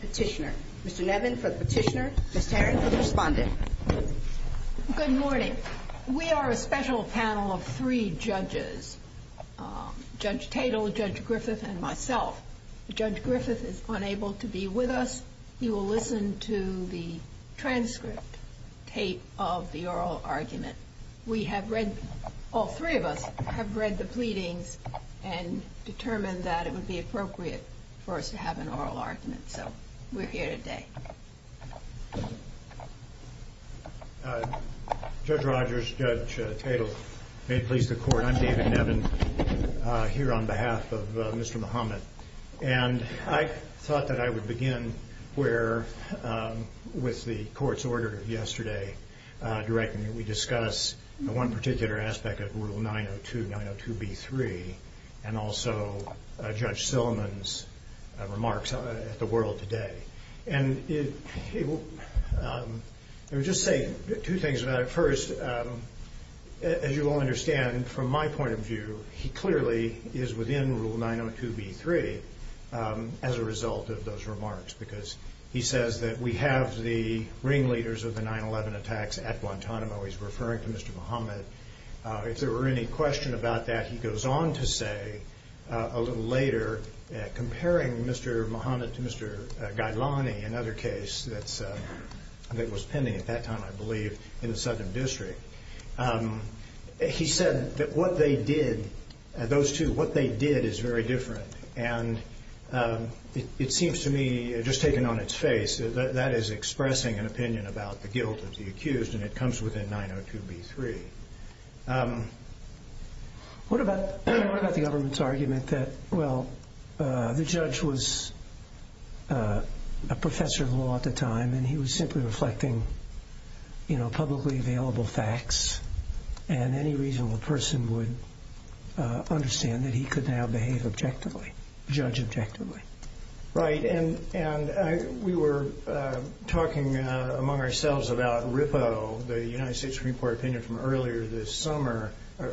Petitioner. Mr. Nevin for the petitioner, Ms. Tarrant for the respondent. Good morning. We are a special panel of three judges, Judge Tatel, Judge Griffith and myself. Judge Griffith is unable to be with us. You will listen to the transcript tape of the hearing. All three of us have read the pleadings and determined that it would be appropriate for us to have an oral argument. So we're here today. Judge Rogers, Judge Tatel, may it please the court, I'm David Nevin here on behalf of Mr. Mohammed. And I thought that I would begin with the court's order yesterday, directing that we discuss one particular aspect of Rule 902, 902B3, and also Judge Silliman's remarks at the World Today. And I would just say two things about it. First, as you all understand, from my point of view, he clearly is within Rule 902B3 as a result of those two cases. He's referring to Mr. Mohammed. If there were any question about that, he goes on to say a little later, comparing Mr. Mohammed to Mr. Ghailani, another case that was pending at that time, I believe, in the Southern District. He said that what they did, those two, what they did is very different. And it seems to me, just taken on its face, that is expressing an opinion about the guilt of the accused, and it comes within 902B3. What about the government's argument that, well, the judge was a professor of law at the time, and he was simply reflecting publicly available facts, and any reasonable person would understand that he could now behave objectively, judge objectively? Right. And we were talking among ourselves about RIPPO, the United States Supreme Court opinion from earlier this summer,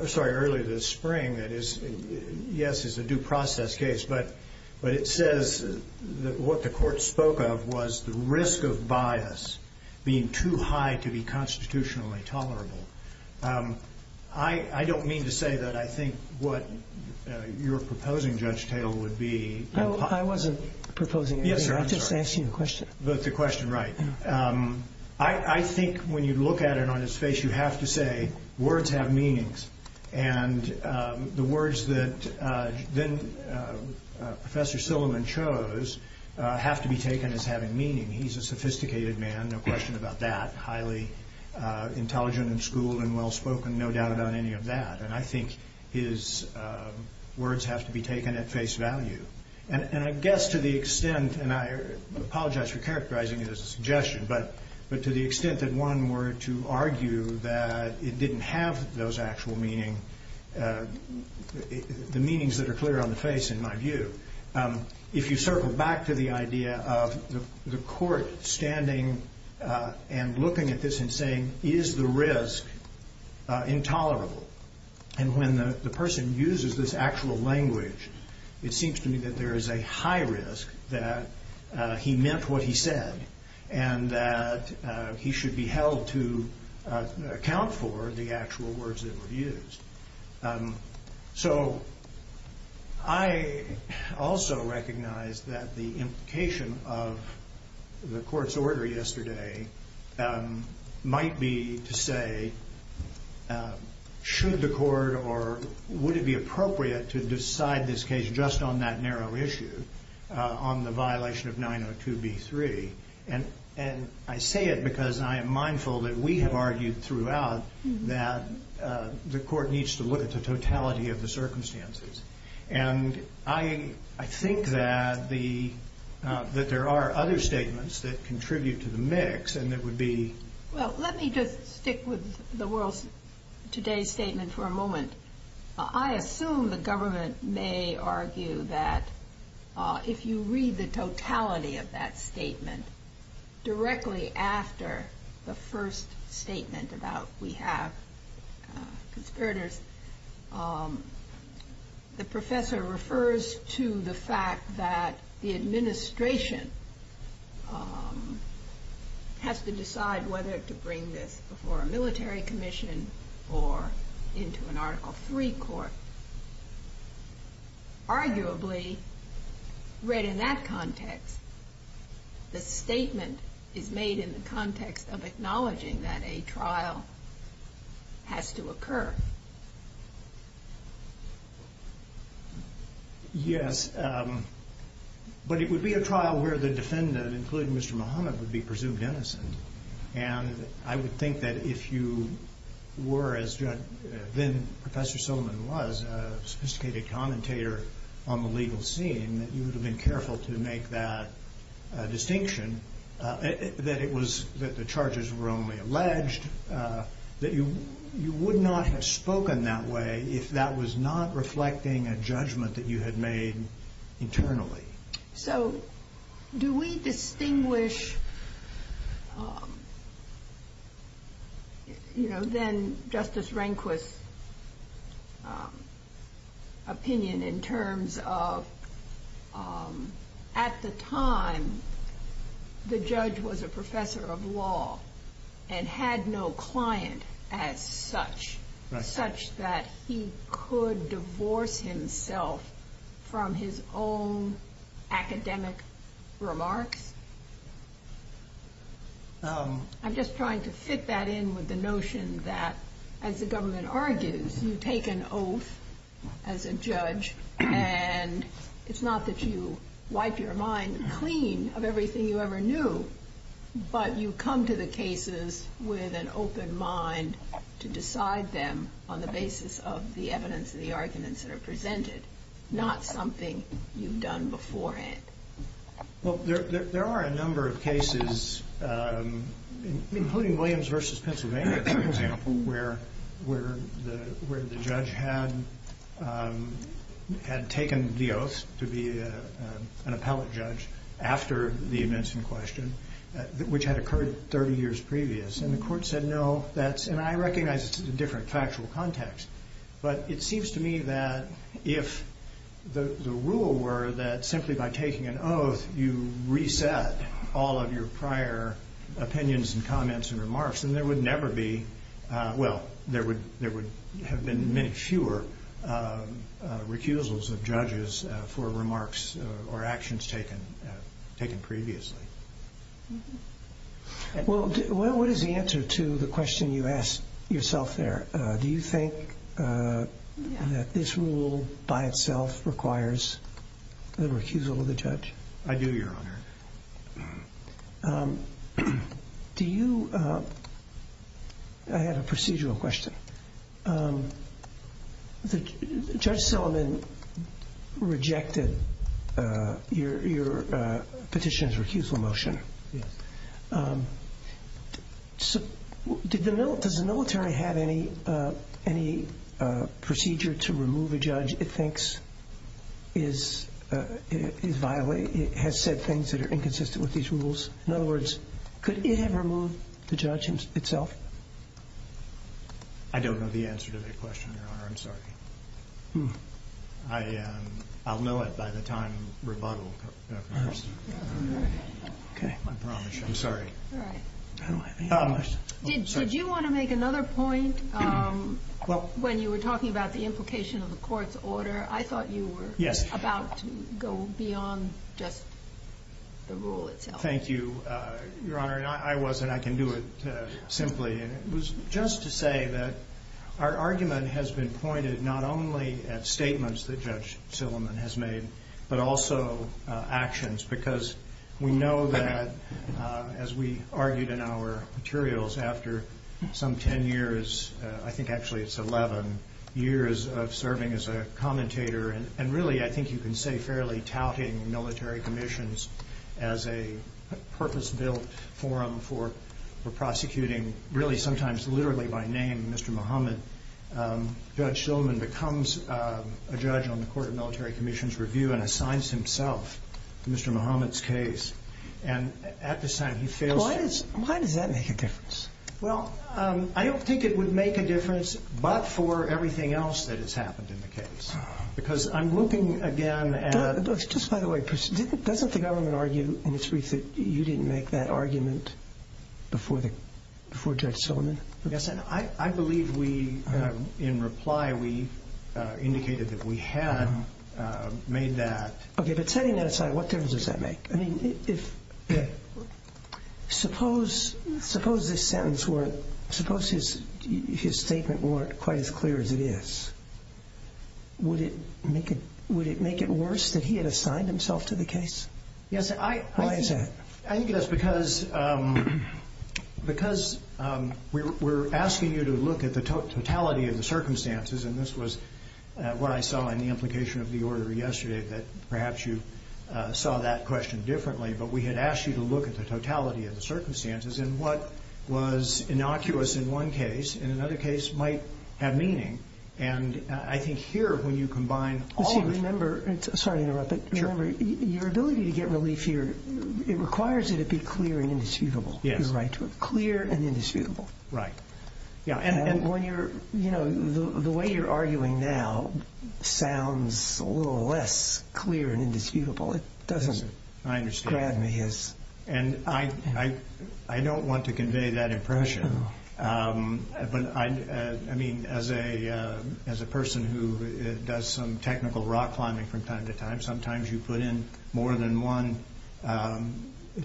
sorry, earlier this spring, that is, yes, it's a due process case, but it says that what the court spoke of was the risk of bias being too high to be constitutionally tolerable. I don't mean to say that I think what you're proposing, Judge Taylor, would be... No, I wasn't proposing anything. Yes, sir, I'm sorry. I just asked you a question. But the question, right. I think when you look at it on its face, you have to say words have meanings, and the words that then Professor Silliman chose have to be taken as having meaning. He's a sophisticated man, no question about that, highly intelligent and schooled and well-spoken, no doubt about any of that, and I think his words have to be taken at face value. And I guess to the extent, and I apologize for characterizing it as a suggestion, but to the extent that one were to argue that it didn't have those actual meaning, the meanings that are clear on the face, in my view, if you circle back to the idea of the court standing and looking at this and saying, is the risk intolerable? And when the person uses this actual language, it seems to me that there is a high risk that he meant what he said, and that he should be held to account for the actual words that the implication of the court's order yesterday might be to say, should the court or would it be appropriate to decide this case just on that narrow issue, on the violation of 902B3? And I say it because I am mindful that we have argued throughout that the court needs to look at the totality of the circumstances. And I think that there are other statements that contribute to the mix, and that would be... Well, let me just stick with the world's, today's statement for a moment. I assume the government may argue that if you read the totality of that statement directly after the first statement about we have conspirators, the professor refers to the fact that the administration has to decide whether to bring this before a military commission or into an Article III court. Arguably, read in that context, the statement is made in the context of acknowledging that a trial has to occur. Yes, but it would be a trial where the defendant, including Mr. Muhammad, would be presumed were, as then-Professor Silliman was, a sophisticated commentator on the legal scene, that you would have been careful to make that distinction, that the charges were only alleged, that you would not have spoken that way if that was not reflecting a judgment that you had made internally. So, do we distinguish, you know, then Justice Rehnquist's opinion in terms of, at the time, the judge was a professor of law and had no client as such, such that he could divorce himself from his own academic remarks? I'm just trying to fit that in with the notion that, as the government argues, you take an oath as a judge and it's not that you wipe your mind clean of everything you ever knew, but you come to the cases with an open mind to decide them on the basis of the evidence and the arguments that are presented, not something you've done beforehand. Well, there are a number of cases, including Williams v. Pennsylvania, for example, where the judge had taken the oath to be an appellate judge after the events in question, which had occurred 30 years previous. And the court said, no, that's, and I recognize it's a different factual context, but it seems to me that if the rule were that simply by taking an oath you reset all of your prior opinions and comments and remarks, then there would never be, well, there would have been many fewer recusals of judges for remarks or actions taken previously. Well, what is the answer to the question you asked yourself there? Do you think that this rule by itself requires the recusal of the judge? I do, Your Honor. Do you, I have a procedural question. Judge Silliman rejected your petition's recusal motion. Yes. Does the military have any procedure to remove a judge it thinks is, has said things that are inconsistent with these rules? In other words, could it have removed the judge himself? I don't know the answer to that question, Your Honor. I'm sorry. I'll know it by the time rebuttal occurs. Okay. I promise you. I'm sorry. All right. Did you want to make another point when you were talking about the implication of the court's order? I thought you were about to go beyond just the rule itself. Thank you, Your Honor. I'm sorry. I wasn't. I can do it simply. It was just to say that our argument has been pointed not only at statements that Judge Silliman has made, but also actions, because we know that, as we argued in our materials after some 10 years, I think actually it's 11 years of serving as a commentator, and really I think you can say fairly touting military commissions as a purpose-built forum for prosecuting, really sometimes literally by name, Mr. Muhammad. Judge Silliman becomes a judge on the Court of Military Commission's review and assigns himself to Mr. Muhammad's case. And at this time he fails to... Why does that make a difference? Well, I don't think it would make a difference but for everything else that has happened in the case. Because I'm looking again at... Just by the way, doesn't the government argue in its brief that you didn't make that argument before Judge Silliman? I believe we, in reply, we indicated that we had made that... Okay, but setting that aside, what difference does that make? I mean, if... Yeah. Suppose this sentence weren't... Suppose his statement weren't quite as clear as it is. Would it make it worse that he had assigned himself to the case? Yes, I think... Why is that? I think it is because we're asking you to look at the totality of the circumstances, and this was what I saw in the implication of the order yesterday, that perhaps you saw that question differently, but we had asked you to look at the totality of the circumstances and what was innocuous in one case and in another case might have meaning. And I think here, when you combine all... Listen, remember... Sorry to interrupt, but remember, your ability to get relief here, it requires it to be clear and indisputable. Yes. You're right. Clear and indisputable. Right. Yeah, and... The way you're arguing now sounds a little less clear and indisputable. It doesn't... I understand. Grab me as... And I don't want to convey that impression, but I mean, as a person who does some technical rock climbing from time to time, sometimes you put in more than one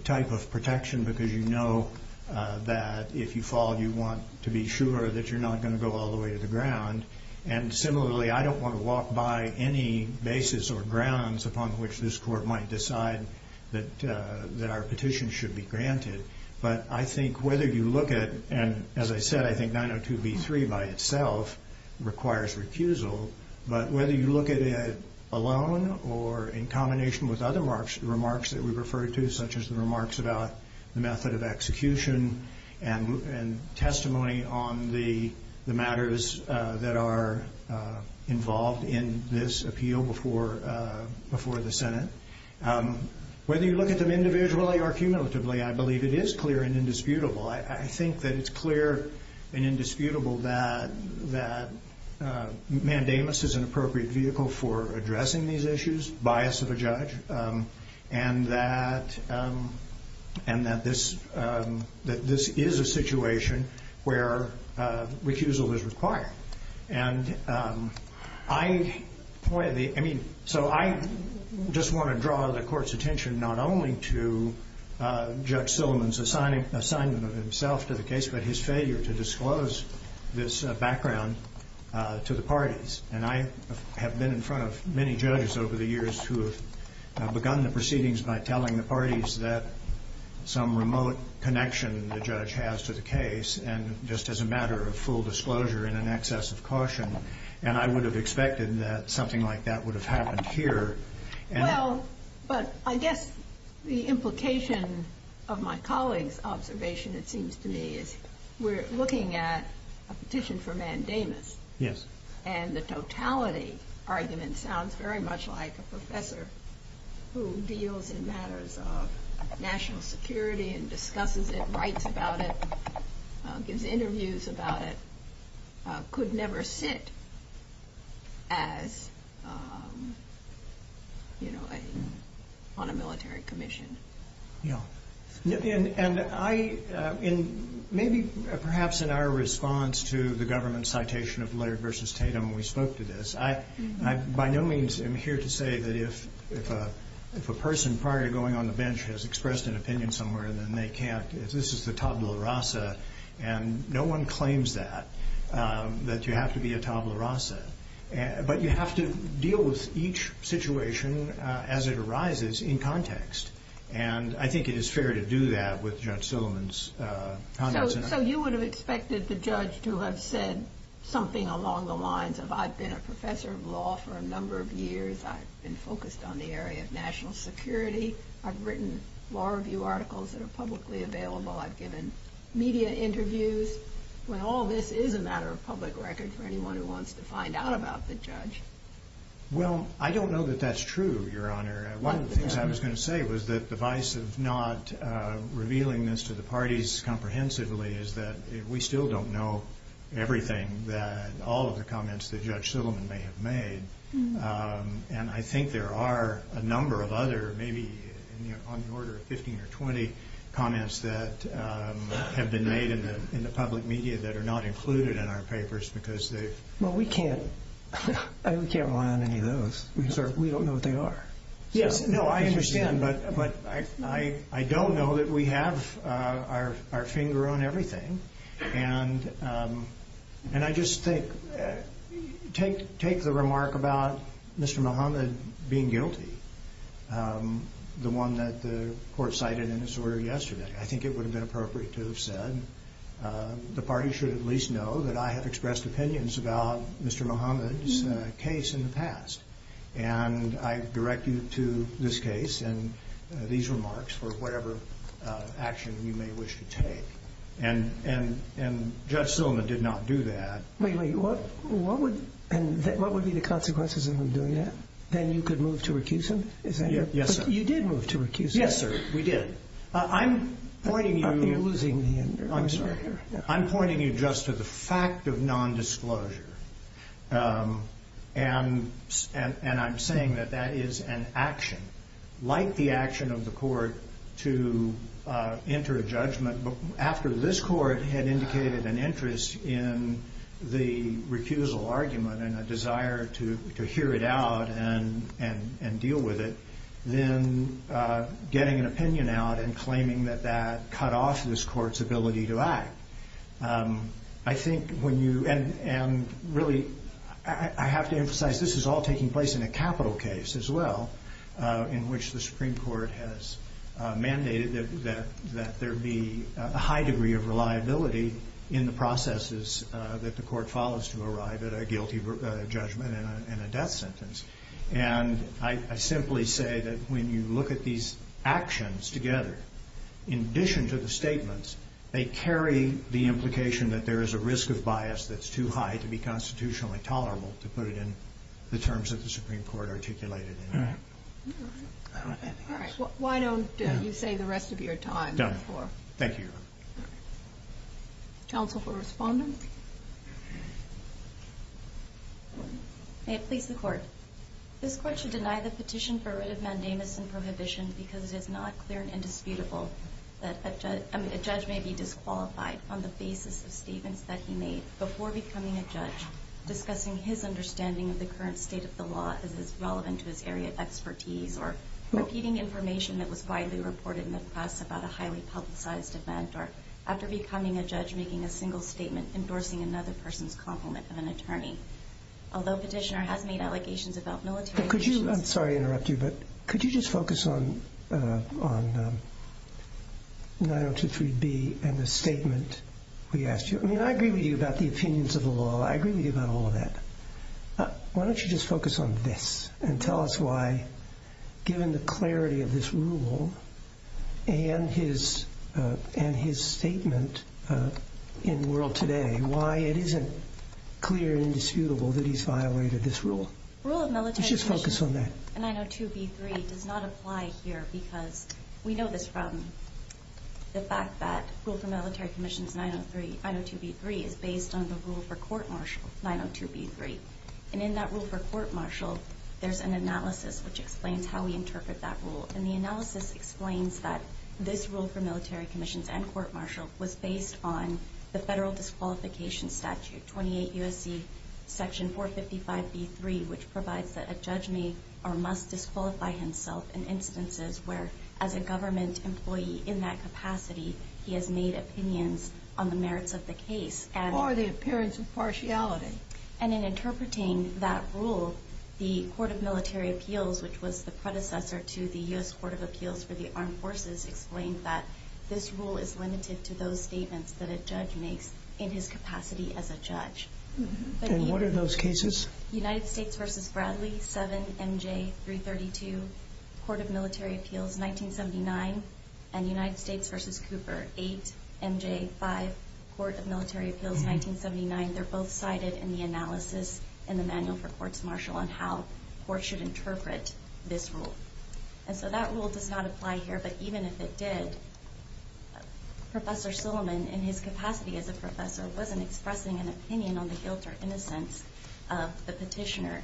type of protection because you know that if you fall, you want to be sure that you're not going to go all the way to the ground. And similarly, I don't want to walk by any basis or grounds upon which this court might decide that our petition should be granted. But I think whether you look at... And as I said, I think 902B3 by itself requires recusal. But whether you look at it alone or in combination with other remarks that we refer to, such as the remarks about the method of execution and testimony on the matters that are involved in this appeal before the Senate, whether you look at them individually or cumulatively, I believe it is clear and indisputable. I think that it's clear and indisputable that mandamus is an appropriate vehicle for addressing these issues, bias of a judge, and that this is a situation where recusal is required. And I... So I just want to draw the court's attention not only to Judge Silliman's assignment of himself to the case, but his failure to disclose this background to the parties. And I have been in front of many judges over the years who have begun the proceedings by telling the parties that some remote connection the judge has to the case, and just as a matter of full disclosure and an excess of caution. And I would have expected that something like that would have happened here. Well, but I guess the implication of my colleague's observation, it seems to me, is we're looking at a petition for mandamus. Yes. And the totality argument sounds very much like a professor who deals in matters of national security and discusses it, writes about it, gives interviews about it, could never sit as, you know, on a military commission. Yeah. And I... Maybe perhaps in our response to the government citation of Laird v. Tatum when we spoke to this, I by no means am here to say that if a person prior to going on the bench has expressed an opinion somewhere, then they can't. This is the tabula rasa, and no one claims that, that you have to be a tabula rasa. But you have to deal with each situation as it arises in context. And I think it is fair to do that with Judge Silliman's comments. So you would have expected the judge to have said something along the lines of, I've been a professor of law for a number of years. I've been focused on the area of national security. I've written law review articles that are publicly available. I've given media interviews. When all this is a matter of public record for anyone who wants to find out about the judge. Well, I don't know that that's true, Your Honor. One of the things I was going to say was that the vice of not revealing this to the parties comprehensively is that we still don't know everything that all of the comments that Judge Silliman may have made. And I think there are a number of other, maybe on the order of 15 or 20, comments that have been made in the public media that are not included in our papers. Well, we can't rely on any of those because we don't know what they are. Yes, no, I understand. But I don't know that we have our finger on everything. And I just think, take the remark about Mr. Muhammad being guilty, the one that the court cited in his order yesterday, I think it would have been appropriate to have said the party should at least know that I have expressed opinions about Mr. Muhammad's case in the past. And I direct you to this case and these remarks for whatever action you may wish to take. And Judge Silliman did not do that. Wait, wait, what would be the consequences of him doing that? Then you could move to recusal? Yes, sir. You did move to recusal. Yes, sir, we did. I'm pointing you just to the fact of nondisclosure. And I'm saying that that is an action, like the action of the court to enter a judgment after this court had indicated an interest in the recusal argument and a desire to hear it out and deal with it, then getting an opinion out and claiming that that cut off this court's ability to act. I think when you, and really I have to emphasize this is all taking place in a capital case as well, in which the Supreme Court has mandated that there be a high degree of reliability in the processes that the court follows to arrive at a guilty judgment and a death sentence. And I simply say that when you look at these actions together, in addition to the statements, they carry the implication that there is a risk of bias that's too high to be constitutionally tolerable, to put it in the terms that the Supreme Court articulated. All right. All right. Why don't you say the rest of your time before? Thank you. All right. Counsel for Respondent? May it please the Court. This Court should deny the petition for writ of mandamus and prohibition because it is not clear and indisputable discussing his understanding of the current state of the law as it's relevant to his area of expertise or repeating information that was widely reported in the press about a highly publicized event or after becoming a judge making a single statement endorsing another person's compliment of an attorney. Although petitioner has made allegations about military issues. I'm sorry to interrupt you, but could you just focus on 9023B and the statement we asked you? I mean, I agree with you about the opinions of the law. I agree with you about all of that. Why don't you just focus on this and tell us why, given the clarity of this rule and his statement in World Today, why it isn't clear and indisputable that he's violated this rule? Rule of military commission 902B3 does not apply here because we know this from the fact that the rule for military commissions 902B3 is based on the rule for court-martial 902B3. And in that rule for court-martial, there's an analysis which explains how we interpret that rule. And the analysis explains that this rule for military commissions and court-martial was based on the federal disqualification statute, 28 U.S.C. section 455B3, which provides that a judge may or must disqualify himself in instances where, as a government employee in that capacity, he has made opinions on the merits of the case. Or the appearance of partiality. And in interpreting that rule, the Court of Military Appeals, which was the predecessor to the U.S. Court of Appeals for the Armed Forces, explained that this rule is limited to those statements that a judge makes in his capacity as a judge. And what are those cases? United States v. Bradley, 7MJ332, Court of Military Appeals, 1979. And United States v. Cooper, 8MJ5, Court of Military Appeals, 1979. They're both cited in the analysis in the manual for court-martial on how courts should interpret this rule. And so that rule does not apply here. But even if it did, Professor Silliman, in his capacity as a professor, wasn't expressing an opinion on the guilt or innocence of the petitioner.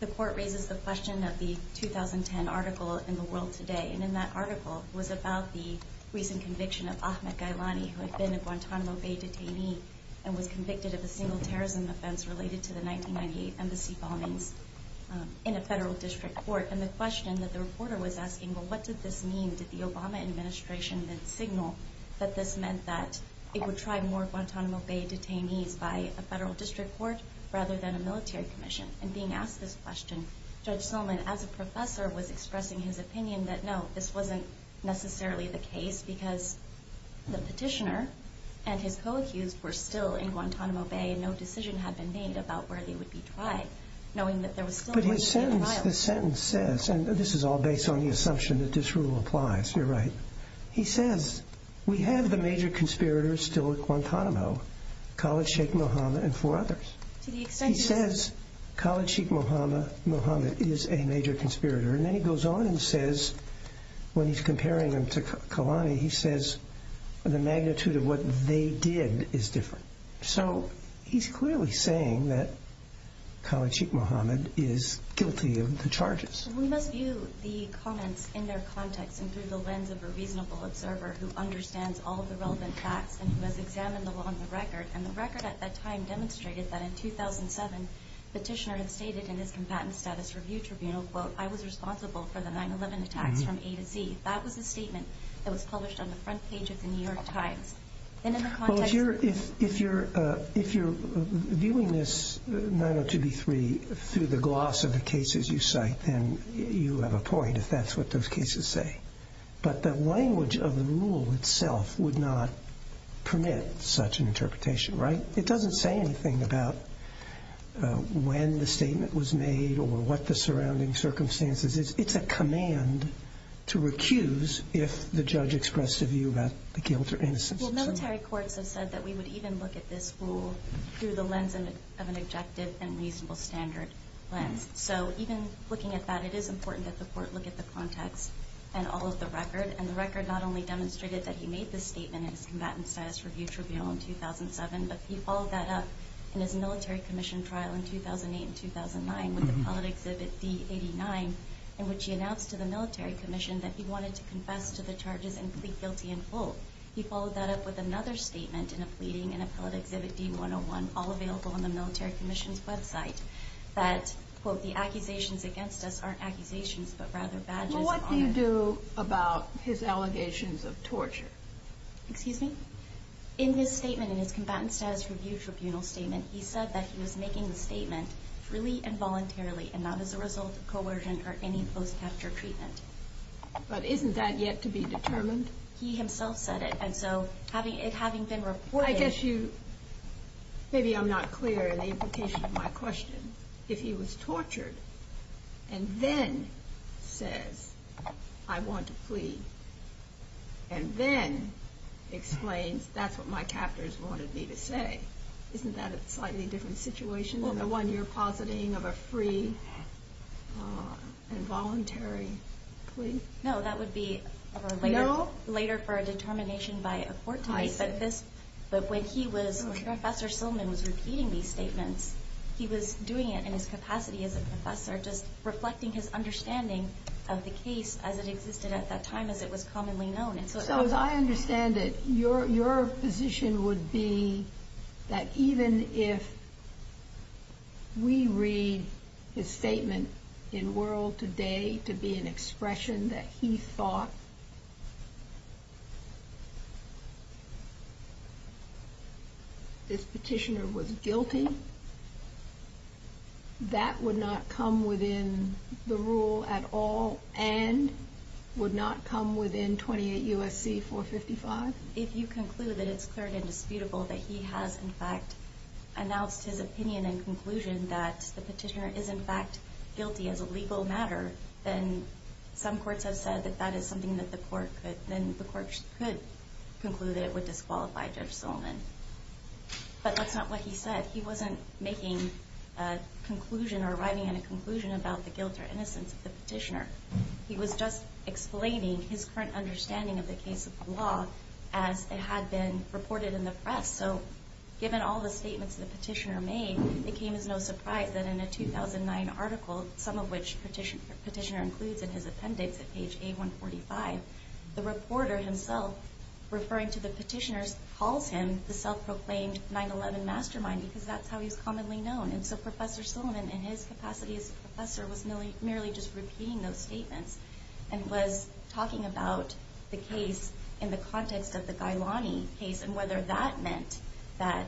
The Court raises the question of the 2010 article in The World Today. And in that article was about the recent conviction of Ahmed Gailani, who had been a Guantanamo Bay detainee and was convicted of a single terrorism offense related to the 1998 embassy bombings in a federal district court. And the question that the reporter was asking, well, what did this mean? Did the Obama administration signal that this meant that it would try more Guantanamo Bay detainees by a federal district court rather than a military commission? And being asked this question, Judge Silliman, as a professor, was expressing his opinion that, no, this wasn't necessarily the case because the petitioner and his co-accused were still in Guantanamo Bay and no decision had been made about where they would be tried, knowing that there was still going to be a trial. The sentence says, and this is all based on the assumption that this rule applies, you're right. He says, we have the major conspirators still at Guantanamo, Khalid Sheikh Mohammed and four others. He says Khalid Sheikh Mohammed is a major conspirator. And then he goes on and says, when he's comparing them to Gailani, he says the magnitude of what they did is different. So he's clearly saying that Khalid Sheikh Mohammed is guilty of the charges. We must view the comments in their context and through the lens of a reasonable observer who understands all of the relevant facts and who has examined the law on the record. And the record at that time demonstrated that in 2007, the petitioner had stated in his combatant status review tribunal, quote, I was responsible for the 9-11 attacks from A to Z. That was the statement that was published on the front page of the New York Times. Well, if you're viewing this 902B3 through the gloss of the cases you cite, then you have a point if that's what those cases say. But the language of the rule itself would not permit such an interpretation, right? It doesn't say anything about when the statement was made or what the surrounding circumstances is. It's a command to recuse if the judge expressed a view about the guilt or innocence of someone. Well, military courts have said that we would even look at this rule through the lens of an objective and reasonable standard lens. So even looking at that, it is important that the court look at the context and all of the record. And the record not only demonstrated that he made this statement in his combatant status review tribunal in 2007, but he followed that up in his military commission trial in 2008 and 2009 with Appellate Exhibit D-89, in which he announced to the military commission that he wanted to confess to the charges and plead guilty in full. He followed that up with another statement in a pleading in Appellate Exhibit D-101, all available on the military commission's website, that, quote, the accusations against us aren't accusations but rather badges of honor. Well, what do you do about his allegations of torture? Excuse me? In his statement, in his combatant status review tribunal statement, he said that he was making the statement freely and voluntarily and not as a result of coercion or any post-capture treatment. But isn't that yet to be determined? He himself said it, and so it having been reported... I guess you, maybe I'm not clear in the implication of my question. If he was tortured and then says, I want to plead, and then explains, that's what my captors wanted me to say, isn't that a slightly different situation than the one you're positing of a free and voluntary plea? No, that would be later for a determination by a court to make. I see. But when Professor Silman was repeating these statements, he was doing it in his capacity as a professor, just reflecting his understanding of the case as it existed at that time, as it was commonly known. So as I understand it, your position would be that even if we read his statement in World Today to be an expression that he thought this petitioner was guilty, that would not come within the rule at all, and would not come within 28 U.S.C. 455? If you conclude that it's clear and indisputable that he has, in fact, announced his opinion and conclusion that the petitioner is, in fact, guilty as a legal matter, then some courts have said that that is something that the court could conclude that it would disqualify Judge Silman. But that's not what he said. He wasn't making a conclusion or arriving at a conclusion about the guilt or innocence of the petitioner. He was just explaining his current understanding of the case of the law as it had been reported in the press. So given all the statements the petitioner made, it came as no surprise that in a 2009 article, some of which the petitioner includes in his appendix at page A145, the reporter himself referring to the petitioner calls him the self-proclaimed 9-11 mastermind because that's how he's commonly known. And so Professor Silman, in his capacity as a professor, was merely just repeating those statements and was talking about the case in the context of the Gailani case and whether that meant that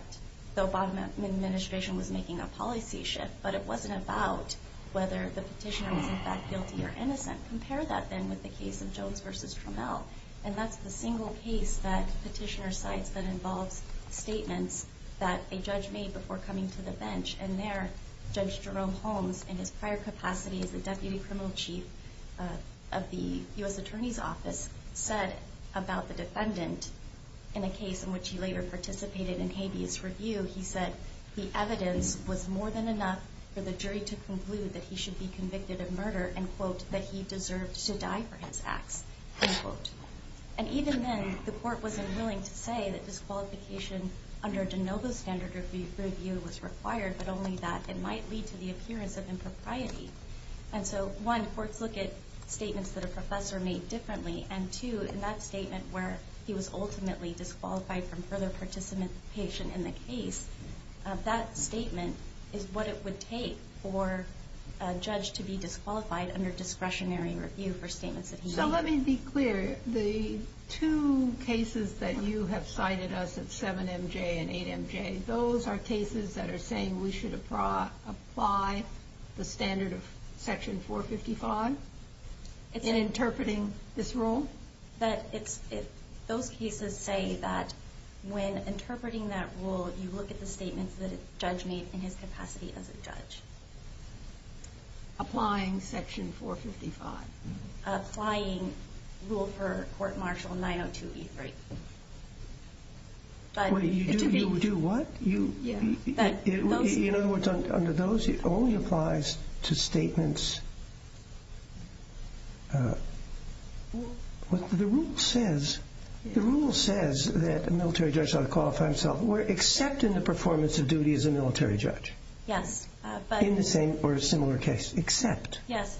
the Obama administration was making a policy shift, but it wasn't about whether the petitioner was, in fact, guilty or innocent. You can't compare that, then, with the case of Jones v. Trammell. And that's the single case that petitioner cites that involves statements that a judge made before coming to the bench. And there, Judge Jerome Holmes, in his prior capacity as the Deputy Criminal Chief of the U.S. Attorney's Office, said about the defendant in a case in which he later participated in habeas review, he said the evidence was more than enough for the jury to conclude that he should be convicted of murder and, quote, that he deserved to die for his acts, end quote. And even then, the court wasn't willing to say that disqualification under de novo standard review was required, but only that it might lead to the appearance of impropriety. And so, one, courts look at statements that a professor made differently, and, two, in that statement where he was ultimately disqualified from further participation in the case, that statement is what it would take for a judge to be disqualified under discretionary review for statements that he made. So, let me be clear. The two cases that you have cited us at 7MJ and 8MJ, those are cases that are saying we should apply the standard of Section 455 in interpreting this rule? Those cases say that when interpreting that rule, you look at the statements that a judge made in his capacity as a judge. Applying Section 455? Applying rule for court-martial 902E3. You do what? In other words, under those, it only applies to statements. The rule says that a military judge ought to qualify himself, except in the performance of duty as a military judge. Yes. In the same or similar case, except. Yes.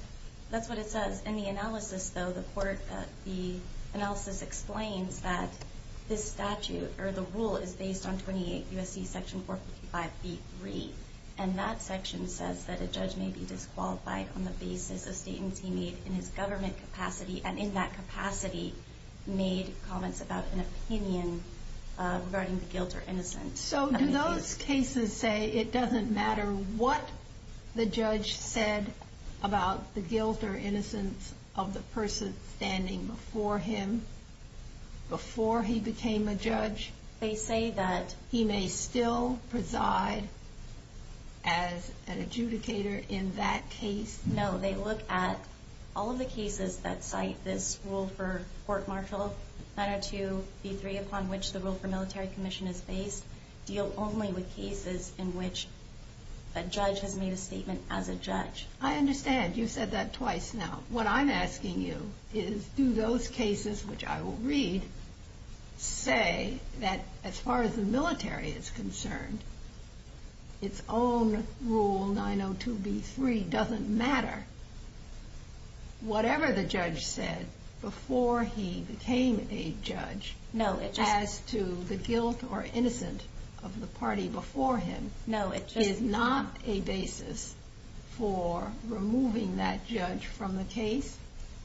That's what it says. In the analysis, though, the court, the analysis explains that this statute or the rule is based on 28 U.S.C. Section 455B3. And that section says that a judge may be disqualified on the basis of statements he made in his government capacity. And in that capacity, made comments about an opinion regarding the guilt or innocence. So do those cases say it doesn't matter what the judge said about the guilt or innocence of the person standing before him before he became a judge? They say that. He may still preside as an adjudicator in that case? No. So they look at all of the cases that cite this rule for court-martial 902B3, upon which the rule for military commission is based, deal only with cases in which a judge has made a statement as a judge. I understand. You've said that twice now. What I'm asking you is, do those cases, which I will read, say that as far as the military is concerned, its own rule, 902B3, doesn't matter? Whatever the judge said before he became a judge, as to the guilt or innocence of the party before him, is not a basis for removing that judge from the case?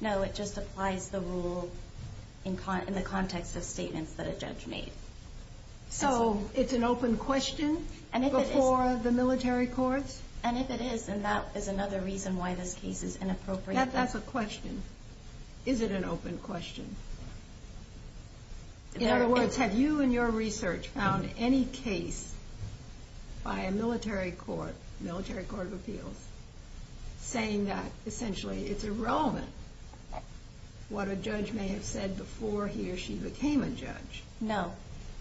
No, it just applies the rule in the context of statements that a judge made. So it's an open question before the military courts? And if it is, then that is another reason why this case is inappropriate. That's a question. Is it an open question? In other words, have you in your research found any case by a military court, military court of appeals, saying that essentially it's irrelevant what a judge may have said before he or she became a judge? No.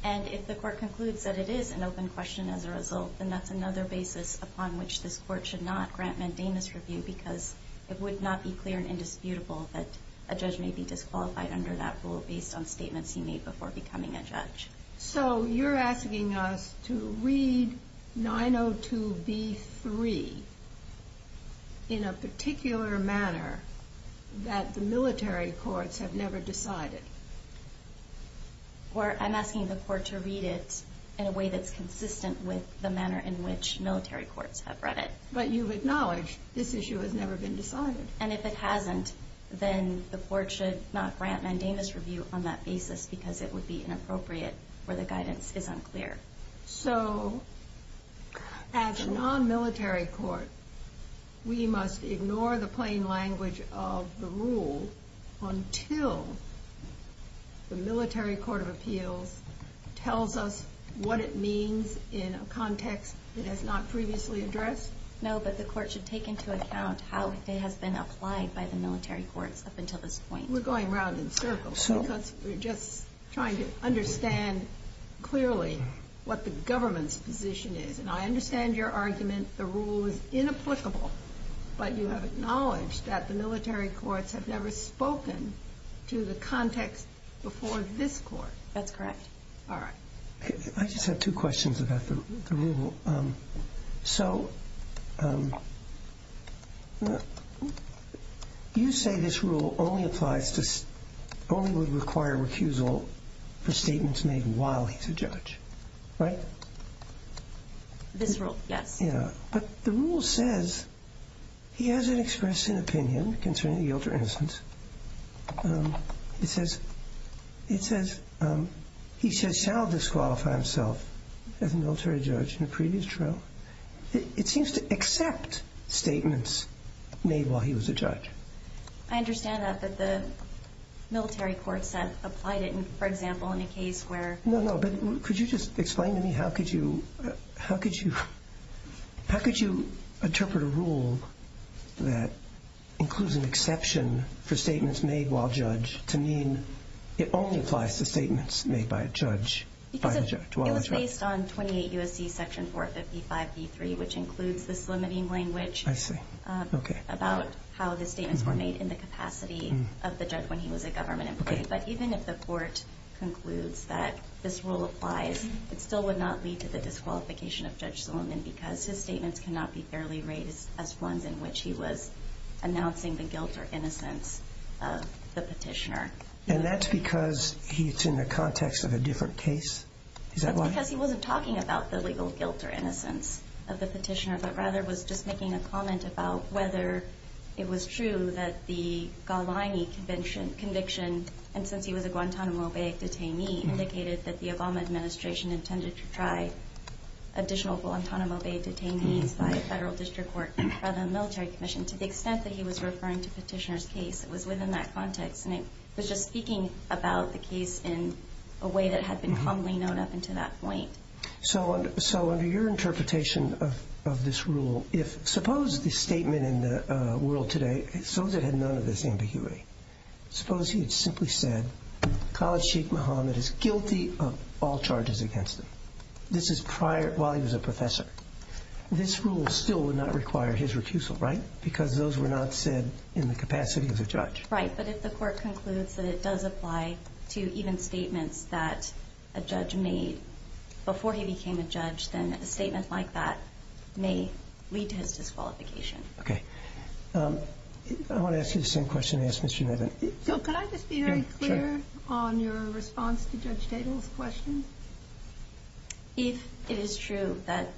And if the court concludes that it is an open question as a result, then that's another basis upon which this court should not grant mandamus review, because it would not be clear and indisputable that a judge may be disqualified under that rule based on statements he made before becoming a judge. So you're asking us to read 902B3 in a particular manner that the military courts have never decided? I'm asking the court to read it in a way that's consistent with the manner in which military courts have read it. But you've acknowledged this issue has never been decided. And if it hasn't, then the court should not grant mandamus review on that basis, because it would be inappropriate where the guidance is unclear. So as a non-military court, we must ignore the plain language of the rule until the military court of appeals tells us what it means in a context it has not previously addressed? No, but the court should take into account how it has been applied by the military courts up until this point. We're going round in circles because we're just trying to understand clearly what the government's position is. And I understand your argument the rule is inapplicable, but you have acknowledged that the military courts have never spoken to the context before this court. That's correct. All right. I just have two questions about the rule. So you say this rule only would require recusal for statements made while he's a judge, right? This rule, yes. Yeah, but the rule says he hasn't expressed an opinion concerning the guilt or innocence. It says he shall disqualify himself as a military judge in a previous trial. It seems to accept statements made while he was a judge. I understand that, but the military courts have applied it, for example, in a case where- No, no, but could you just explain to me how could you interpret a rule that includes an exception for statements made while judge to mean it only applies to statements made by a judge? It was based on 28 U.S.C. Section 455b3, which includes this limiting language about how the statements were made in the capacity of the judge when he was a government employee. But even if the court concludes that this rule applies, it still would not lead to the disqualification of Judge Solomon because his statements cannot be fairly raised as ones in which he was announcing the guilt or innocence of the petitioner. And that's because it's in the context of a different case? Is that why? That's because he wasn't talking about the legal guilt or innocence of the petitioner, but rather was just making a comment about whether it was true that the Gallini conviction, and since he was a Guantanamo Bay detainee, indicated that the Obama administration intended to try additional Guantanamo Bay detainees by a federal district court rather than a military commission, to the extent that he was referring to petitioner's case. It was within that context, and it was just speaking about the case in a way that had been commonly known up until that point. So under your interpretation of this rule, if suppose the statement in the world today, suppose it had none of this ambiguity. Suppose he had simply said, College Chief Muhammad is guilty of all charges against him. This is while he was a professor. This rule still would not require his recusal, right? Because those were not said in the capacity of the judge. Right, but if the court concludes that it does apply to even statements that a judge made before he became a judge, then a statement like that may lead to his disqualification. Okay. I want to ask you the same question I asked Ms. Schumether. So could I just be very clear on your response to Judge Tatel's question? If it is true that,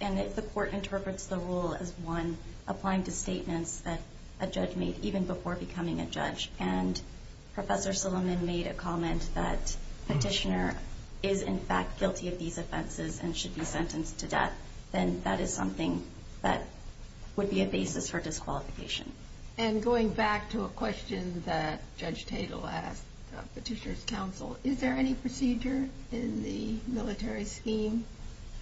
and if the court interprets the rule as one, that a judge made even before becoming a judge, and Professor Suleiman made a comment that Petitioner is in fact guilty of these offenses and should be sentenced to death, then that is something that would be a basis for disqualification. And going back to a question that Judge Tatel asked Petitioner's counsel, is there any procedure in the military scheme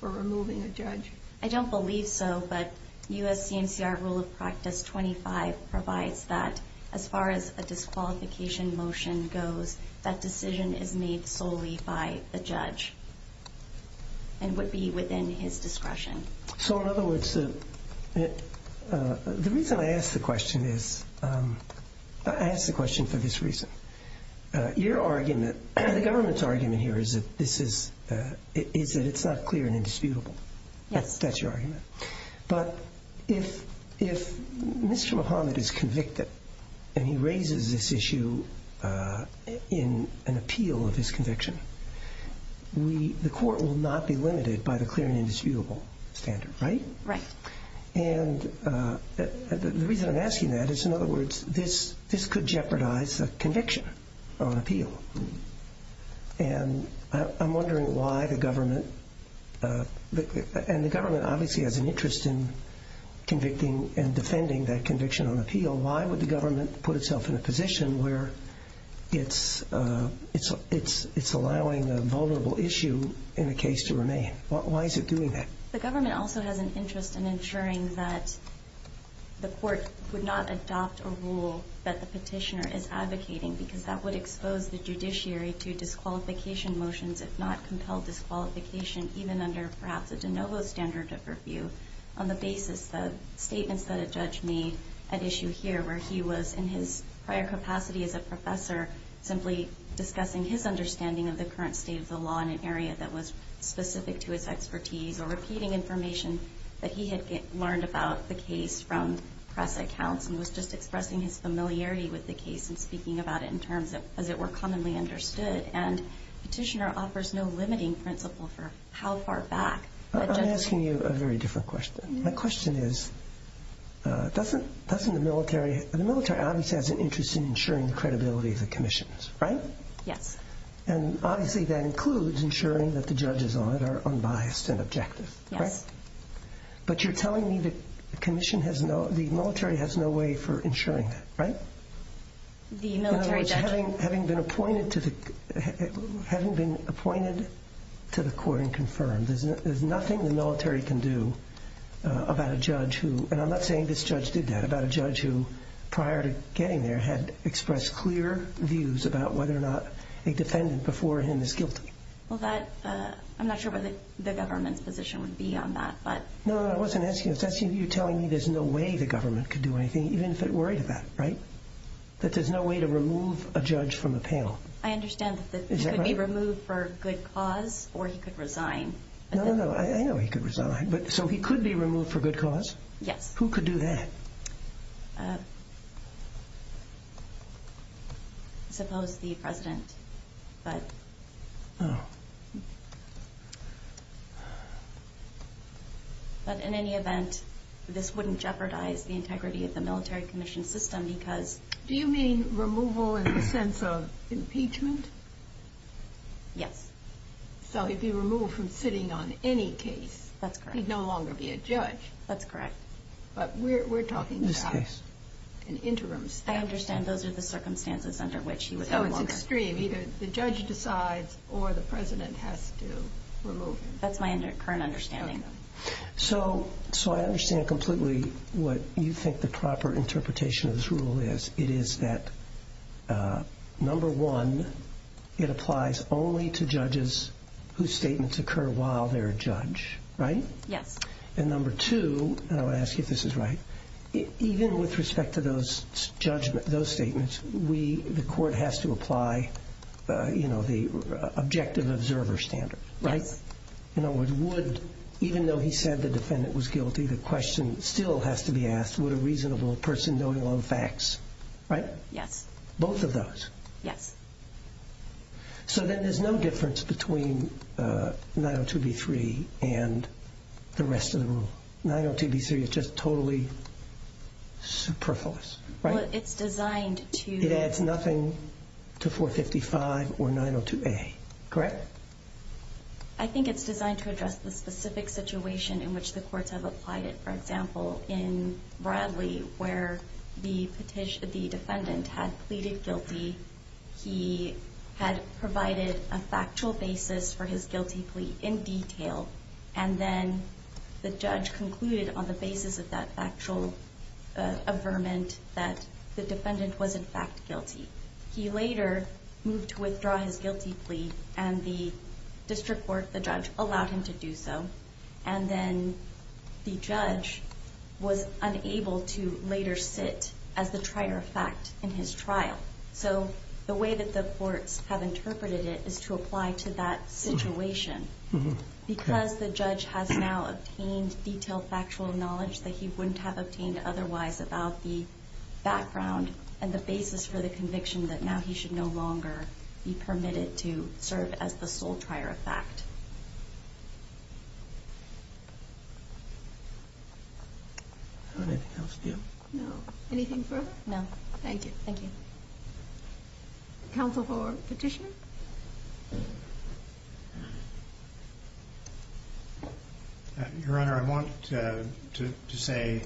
for removing a judge? I don't believe so, but USCNCR Rule of Practice 25 provides that as far as a disqualification motion goes, that decision is made solely by the judge and would be within his discretion. So in other words, the reason I ask the question is, I ask the question for this reason. Your argument, the government's argument here is that it's not clear and indisputable. Yes. That's your argument. But if Mr. Muhammad is convicted and he raises this issue in an appeal of his conviction, the court will not be limited by the clear and indisputable standard, right? Right. And the reason I'm asking that is, in other words, this could jeopardize a conviction on appeal. And I'm wondering why the government, and the government obviously has an interest in convicting and defending that conviction on appeal. Why would the government put itself in a position where it's allowing a vulnerable issue in a case to remain? Why is it doing that? The government also has an interest in ensuring that the court would not adopt a rule that the petitioner is advocating, because that would expose the judiciary to disqualification motions, if not compel disqualification, even under perhaps a de novo standard of review on the basis of statements that a judge made at issue here, where he was in his prior capacity as a professor simply discussing his understanding of the current state of the law on an area that was specific to his expertise or repeating information that he had learned about the case from press accounts and was just expressing his familiarity with the case and speaking about it in terms as it were commonly understood. And the petitioner offers no limiting principle for how far back the judge— I'm asking you a very different question. My question is, doesn't the military—the military obviously has an interest in ensuring the credibility of the commissions, right? Yes. And obviously that includes ensuring that the judges on it are unbiased and objective, right? Yes. But you're telling me the commission has no—the military has no way for ensuring that, right? The military judge— In other words, having been appointed to the—having been appointed to the court and confirmed, there's nothing the military can do about a judge who—and I'm not saying this judge did that— Well, that—I'm not sure what the government's position would be on that, but— No, no, I wasn't asking that. That's you telling me there's no way the government could do anything, even if it worried about it, right? That there's no way to remove a judge from a panel. I understand that he could be removed for good cause or he could resign. No, no, no. I know he could resign. So he could be removed for good cause? Yes. Who could do that? Uh, suppose the president, but— Oh. But in any event, this wouldn't jeopardize the integrity of the military commission system because— Do you mean removal in the sense of impeachment? Yes. So he'd be removed from sitting on any case. That's correct. He'd no longer be a judge. That's correct. But we're talking about an interim— I understand those are the circumstances under which he would no longer— So it's extreme. Either the judge decides or the president has to remove him. That's my current understanding. Okay. So I understand completely what you think the proper interpretation of this rule is. It is that, number one, it applies only to judges whose statements occur while they're a judge, right? Yes. And number two—and I'm going to ask you if this is right— even with respect to those statements, the court has to apply the objective observer standard, right? Yes. In other words, would—even though he said the defendant was guilty, the question still has to be asked, would a reasonable person, knowing all the facts—right? Yes. Both of those? Yes. So then there's no difference between 902B3 and the rest of the rule. 902B3 is just totally superfluous, right? Well, it's designed to— It adds nothing to 455 or 902A, correct? I think it's designed to address the specific situation in which the courts have applied it. For example, in Bradley, where the defendant had pleaded guilty, he had provided a factual basis for his guilty plea in detail, and then the judge concluded on the basis of that factual averment that the defendant was, in fact, guilty. He later moved to withdraw his guilty plea, and the district court, the judge, allowed him to do so. And then the judge was unable to later sit as the trier of fact in his trial. So the way that the courts have interpreted it is to apply to that situation, because the judge has now obtained detailed factual knowledge that he wouldn't have obtained otherwise about the background and the basis for the conviction that now he should no longer be permitted to serve as the sole trier of fact. Anything else to you? No. Anything further? No. Thank you. Thank you. Counsel for petitioner? Your Honor, I want to say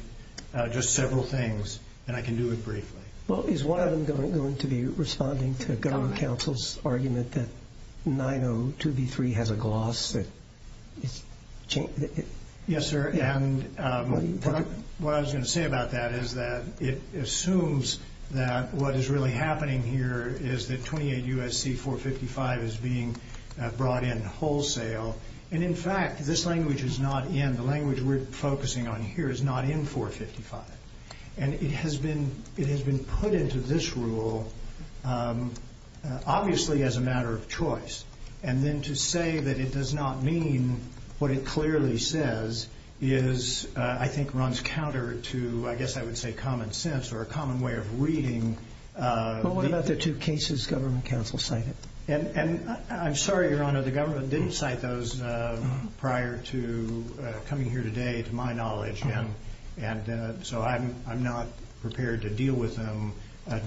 just several things, and I can do it briefly. Well, is one of them going to be responding to the government counsel's argument that 902B3 has a gloss? Yes, sir. And what I was going to say about that is that it assumes that what is really happening here is that 28 U.S.C. 455 is being brought in wholesale. And, in fact, this language is not in. The language we're focusing on here is not in 455. And it has been put into this rule, obviously, as a matter of choice. And then to say that it does not mean what it clearly says is, I think, runs counter to, I guess I would say, common sense or a common way of reading. But what about the two cases government counsel cited? And I'm sorry, Your Honor, the government didn't cite those prior to coming here today, to my knowledge. And so I'm not prepared to deal with them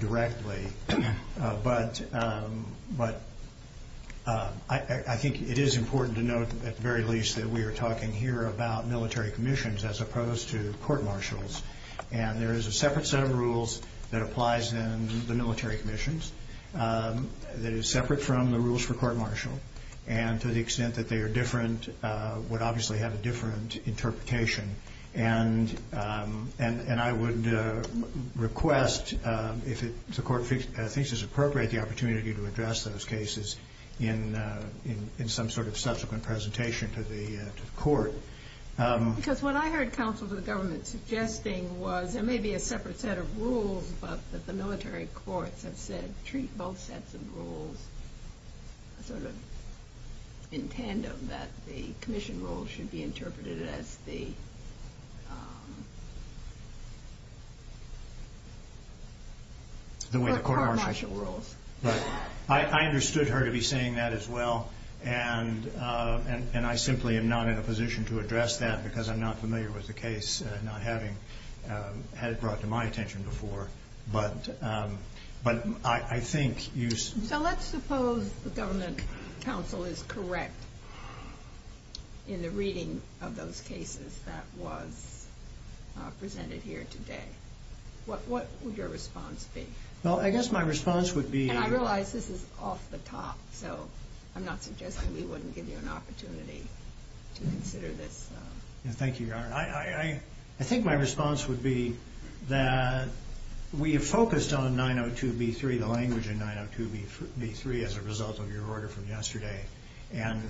directly. But I think it is important to note, at the very least, that we are talking here about military commissions as opposed to court-martials. And there is a separate set of rules that applies in the military commissions that is separate from the rules for court-martial. And to the extent that they are different would obviously have a different interpretation. And I would request, if the court thinks it is appropriate, the opportunity to address those cases in some sort of subsequent presentation to the court. Because what I heard counsel to the government suggesting was there may be a separate set of rules, but that the military courts have said treat both sets of rules sort of in tandem, that the commission rules should be interpreted as the court-martial rules. I understood her to be saying that as well. And I simply am not in a position to address that because I'm not familiar with the case, not having had it brought to my attention before. But I think you... So let's suppose the government counsel is correct in the reading of those cases that was presented here today. What would your response be? Well, I guess my response would be... And I realize this is off the top, so I'm not suggesting we wouldn't give you an opportunity to consider this. Thank you, Your Honor. I think my response would be that we have focused on 902B3, the language in 902B3, as a result of your order from yesterday. And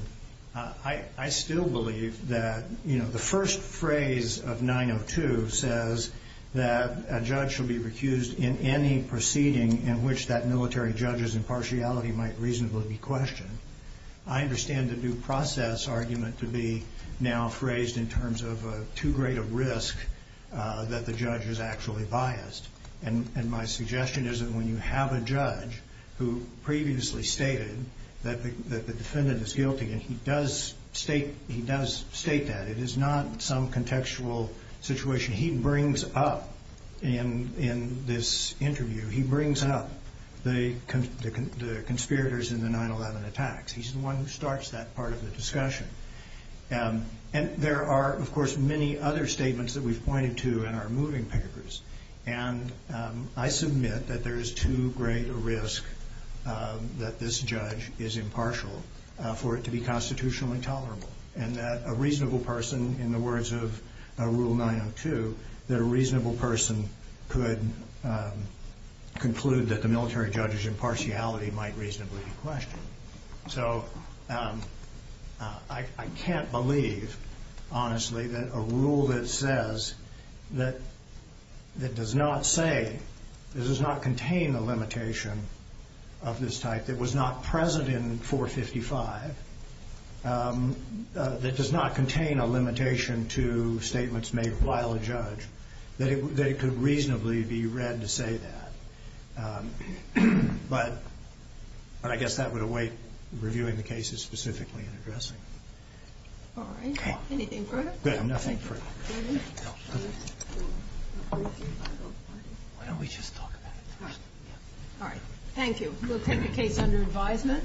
I still believe that the first phrase of 902 says that a judge should be recused in any proceeding in which that military judge's impartiality might reasonably be questioned. I understand the due process argument to be now phrased in terms of too great a risk that the judge is actually biased. And my suggestion is that when you have a judge who previously stated that the defendant is guilty, and he does state that, it is not some contextual situation. He brings up in this interview, he brings up the conspirators in the 9-11 attacks. He's the one who starts that part of the discussion. And there are, of course, many other statements that we've pointed to in our moving papers. And I submit that there is too great a risk that this judge is impartial for it to be constitutionally tolerable, and that a reasonable person, in the words of Rule 902, that a reasonable person could conclude that the military judge's impartiality might reasonably be questioned. So I can't believe, honestly, that a rule that says, that does not say, that does not contain a limitation of this type, that was not present in 455, that does not contain a limitation to statements made while a judge, that it could reasonably be read to say that. But I guess that would await reviewing the cases specifically and addressing them. All right. Anything further? Good. Nothing further. Why don't we just talk about it first? All right. Thank you. We'll take the case under advisement.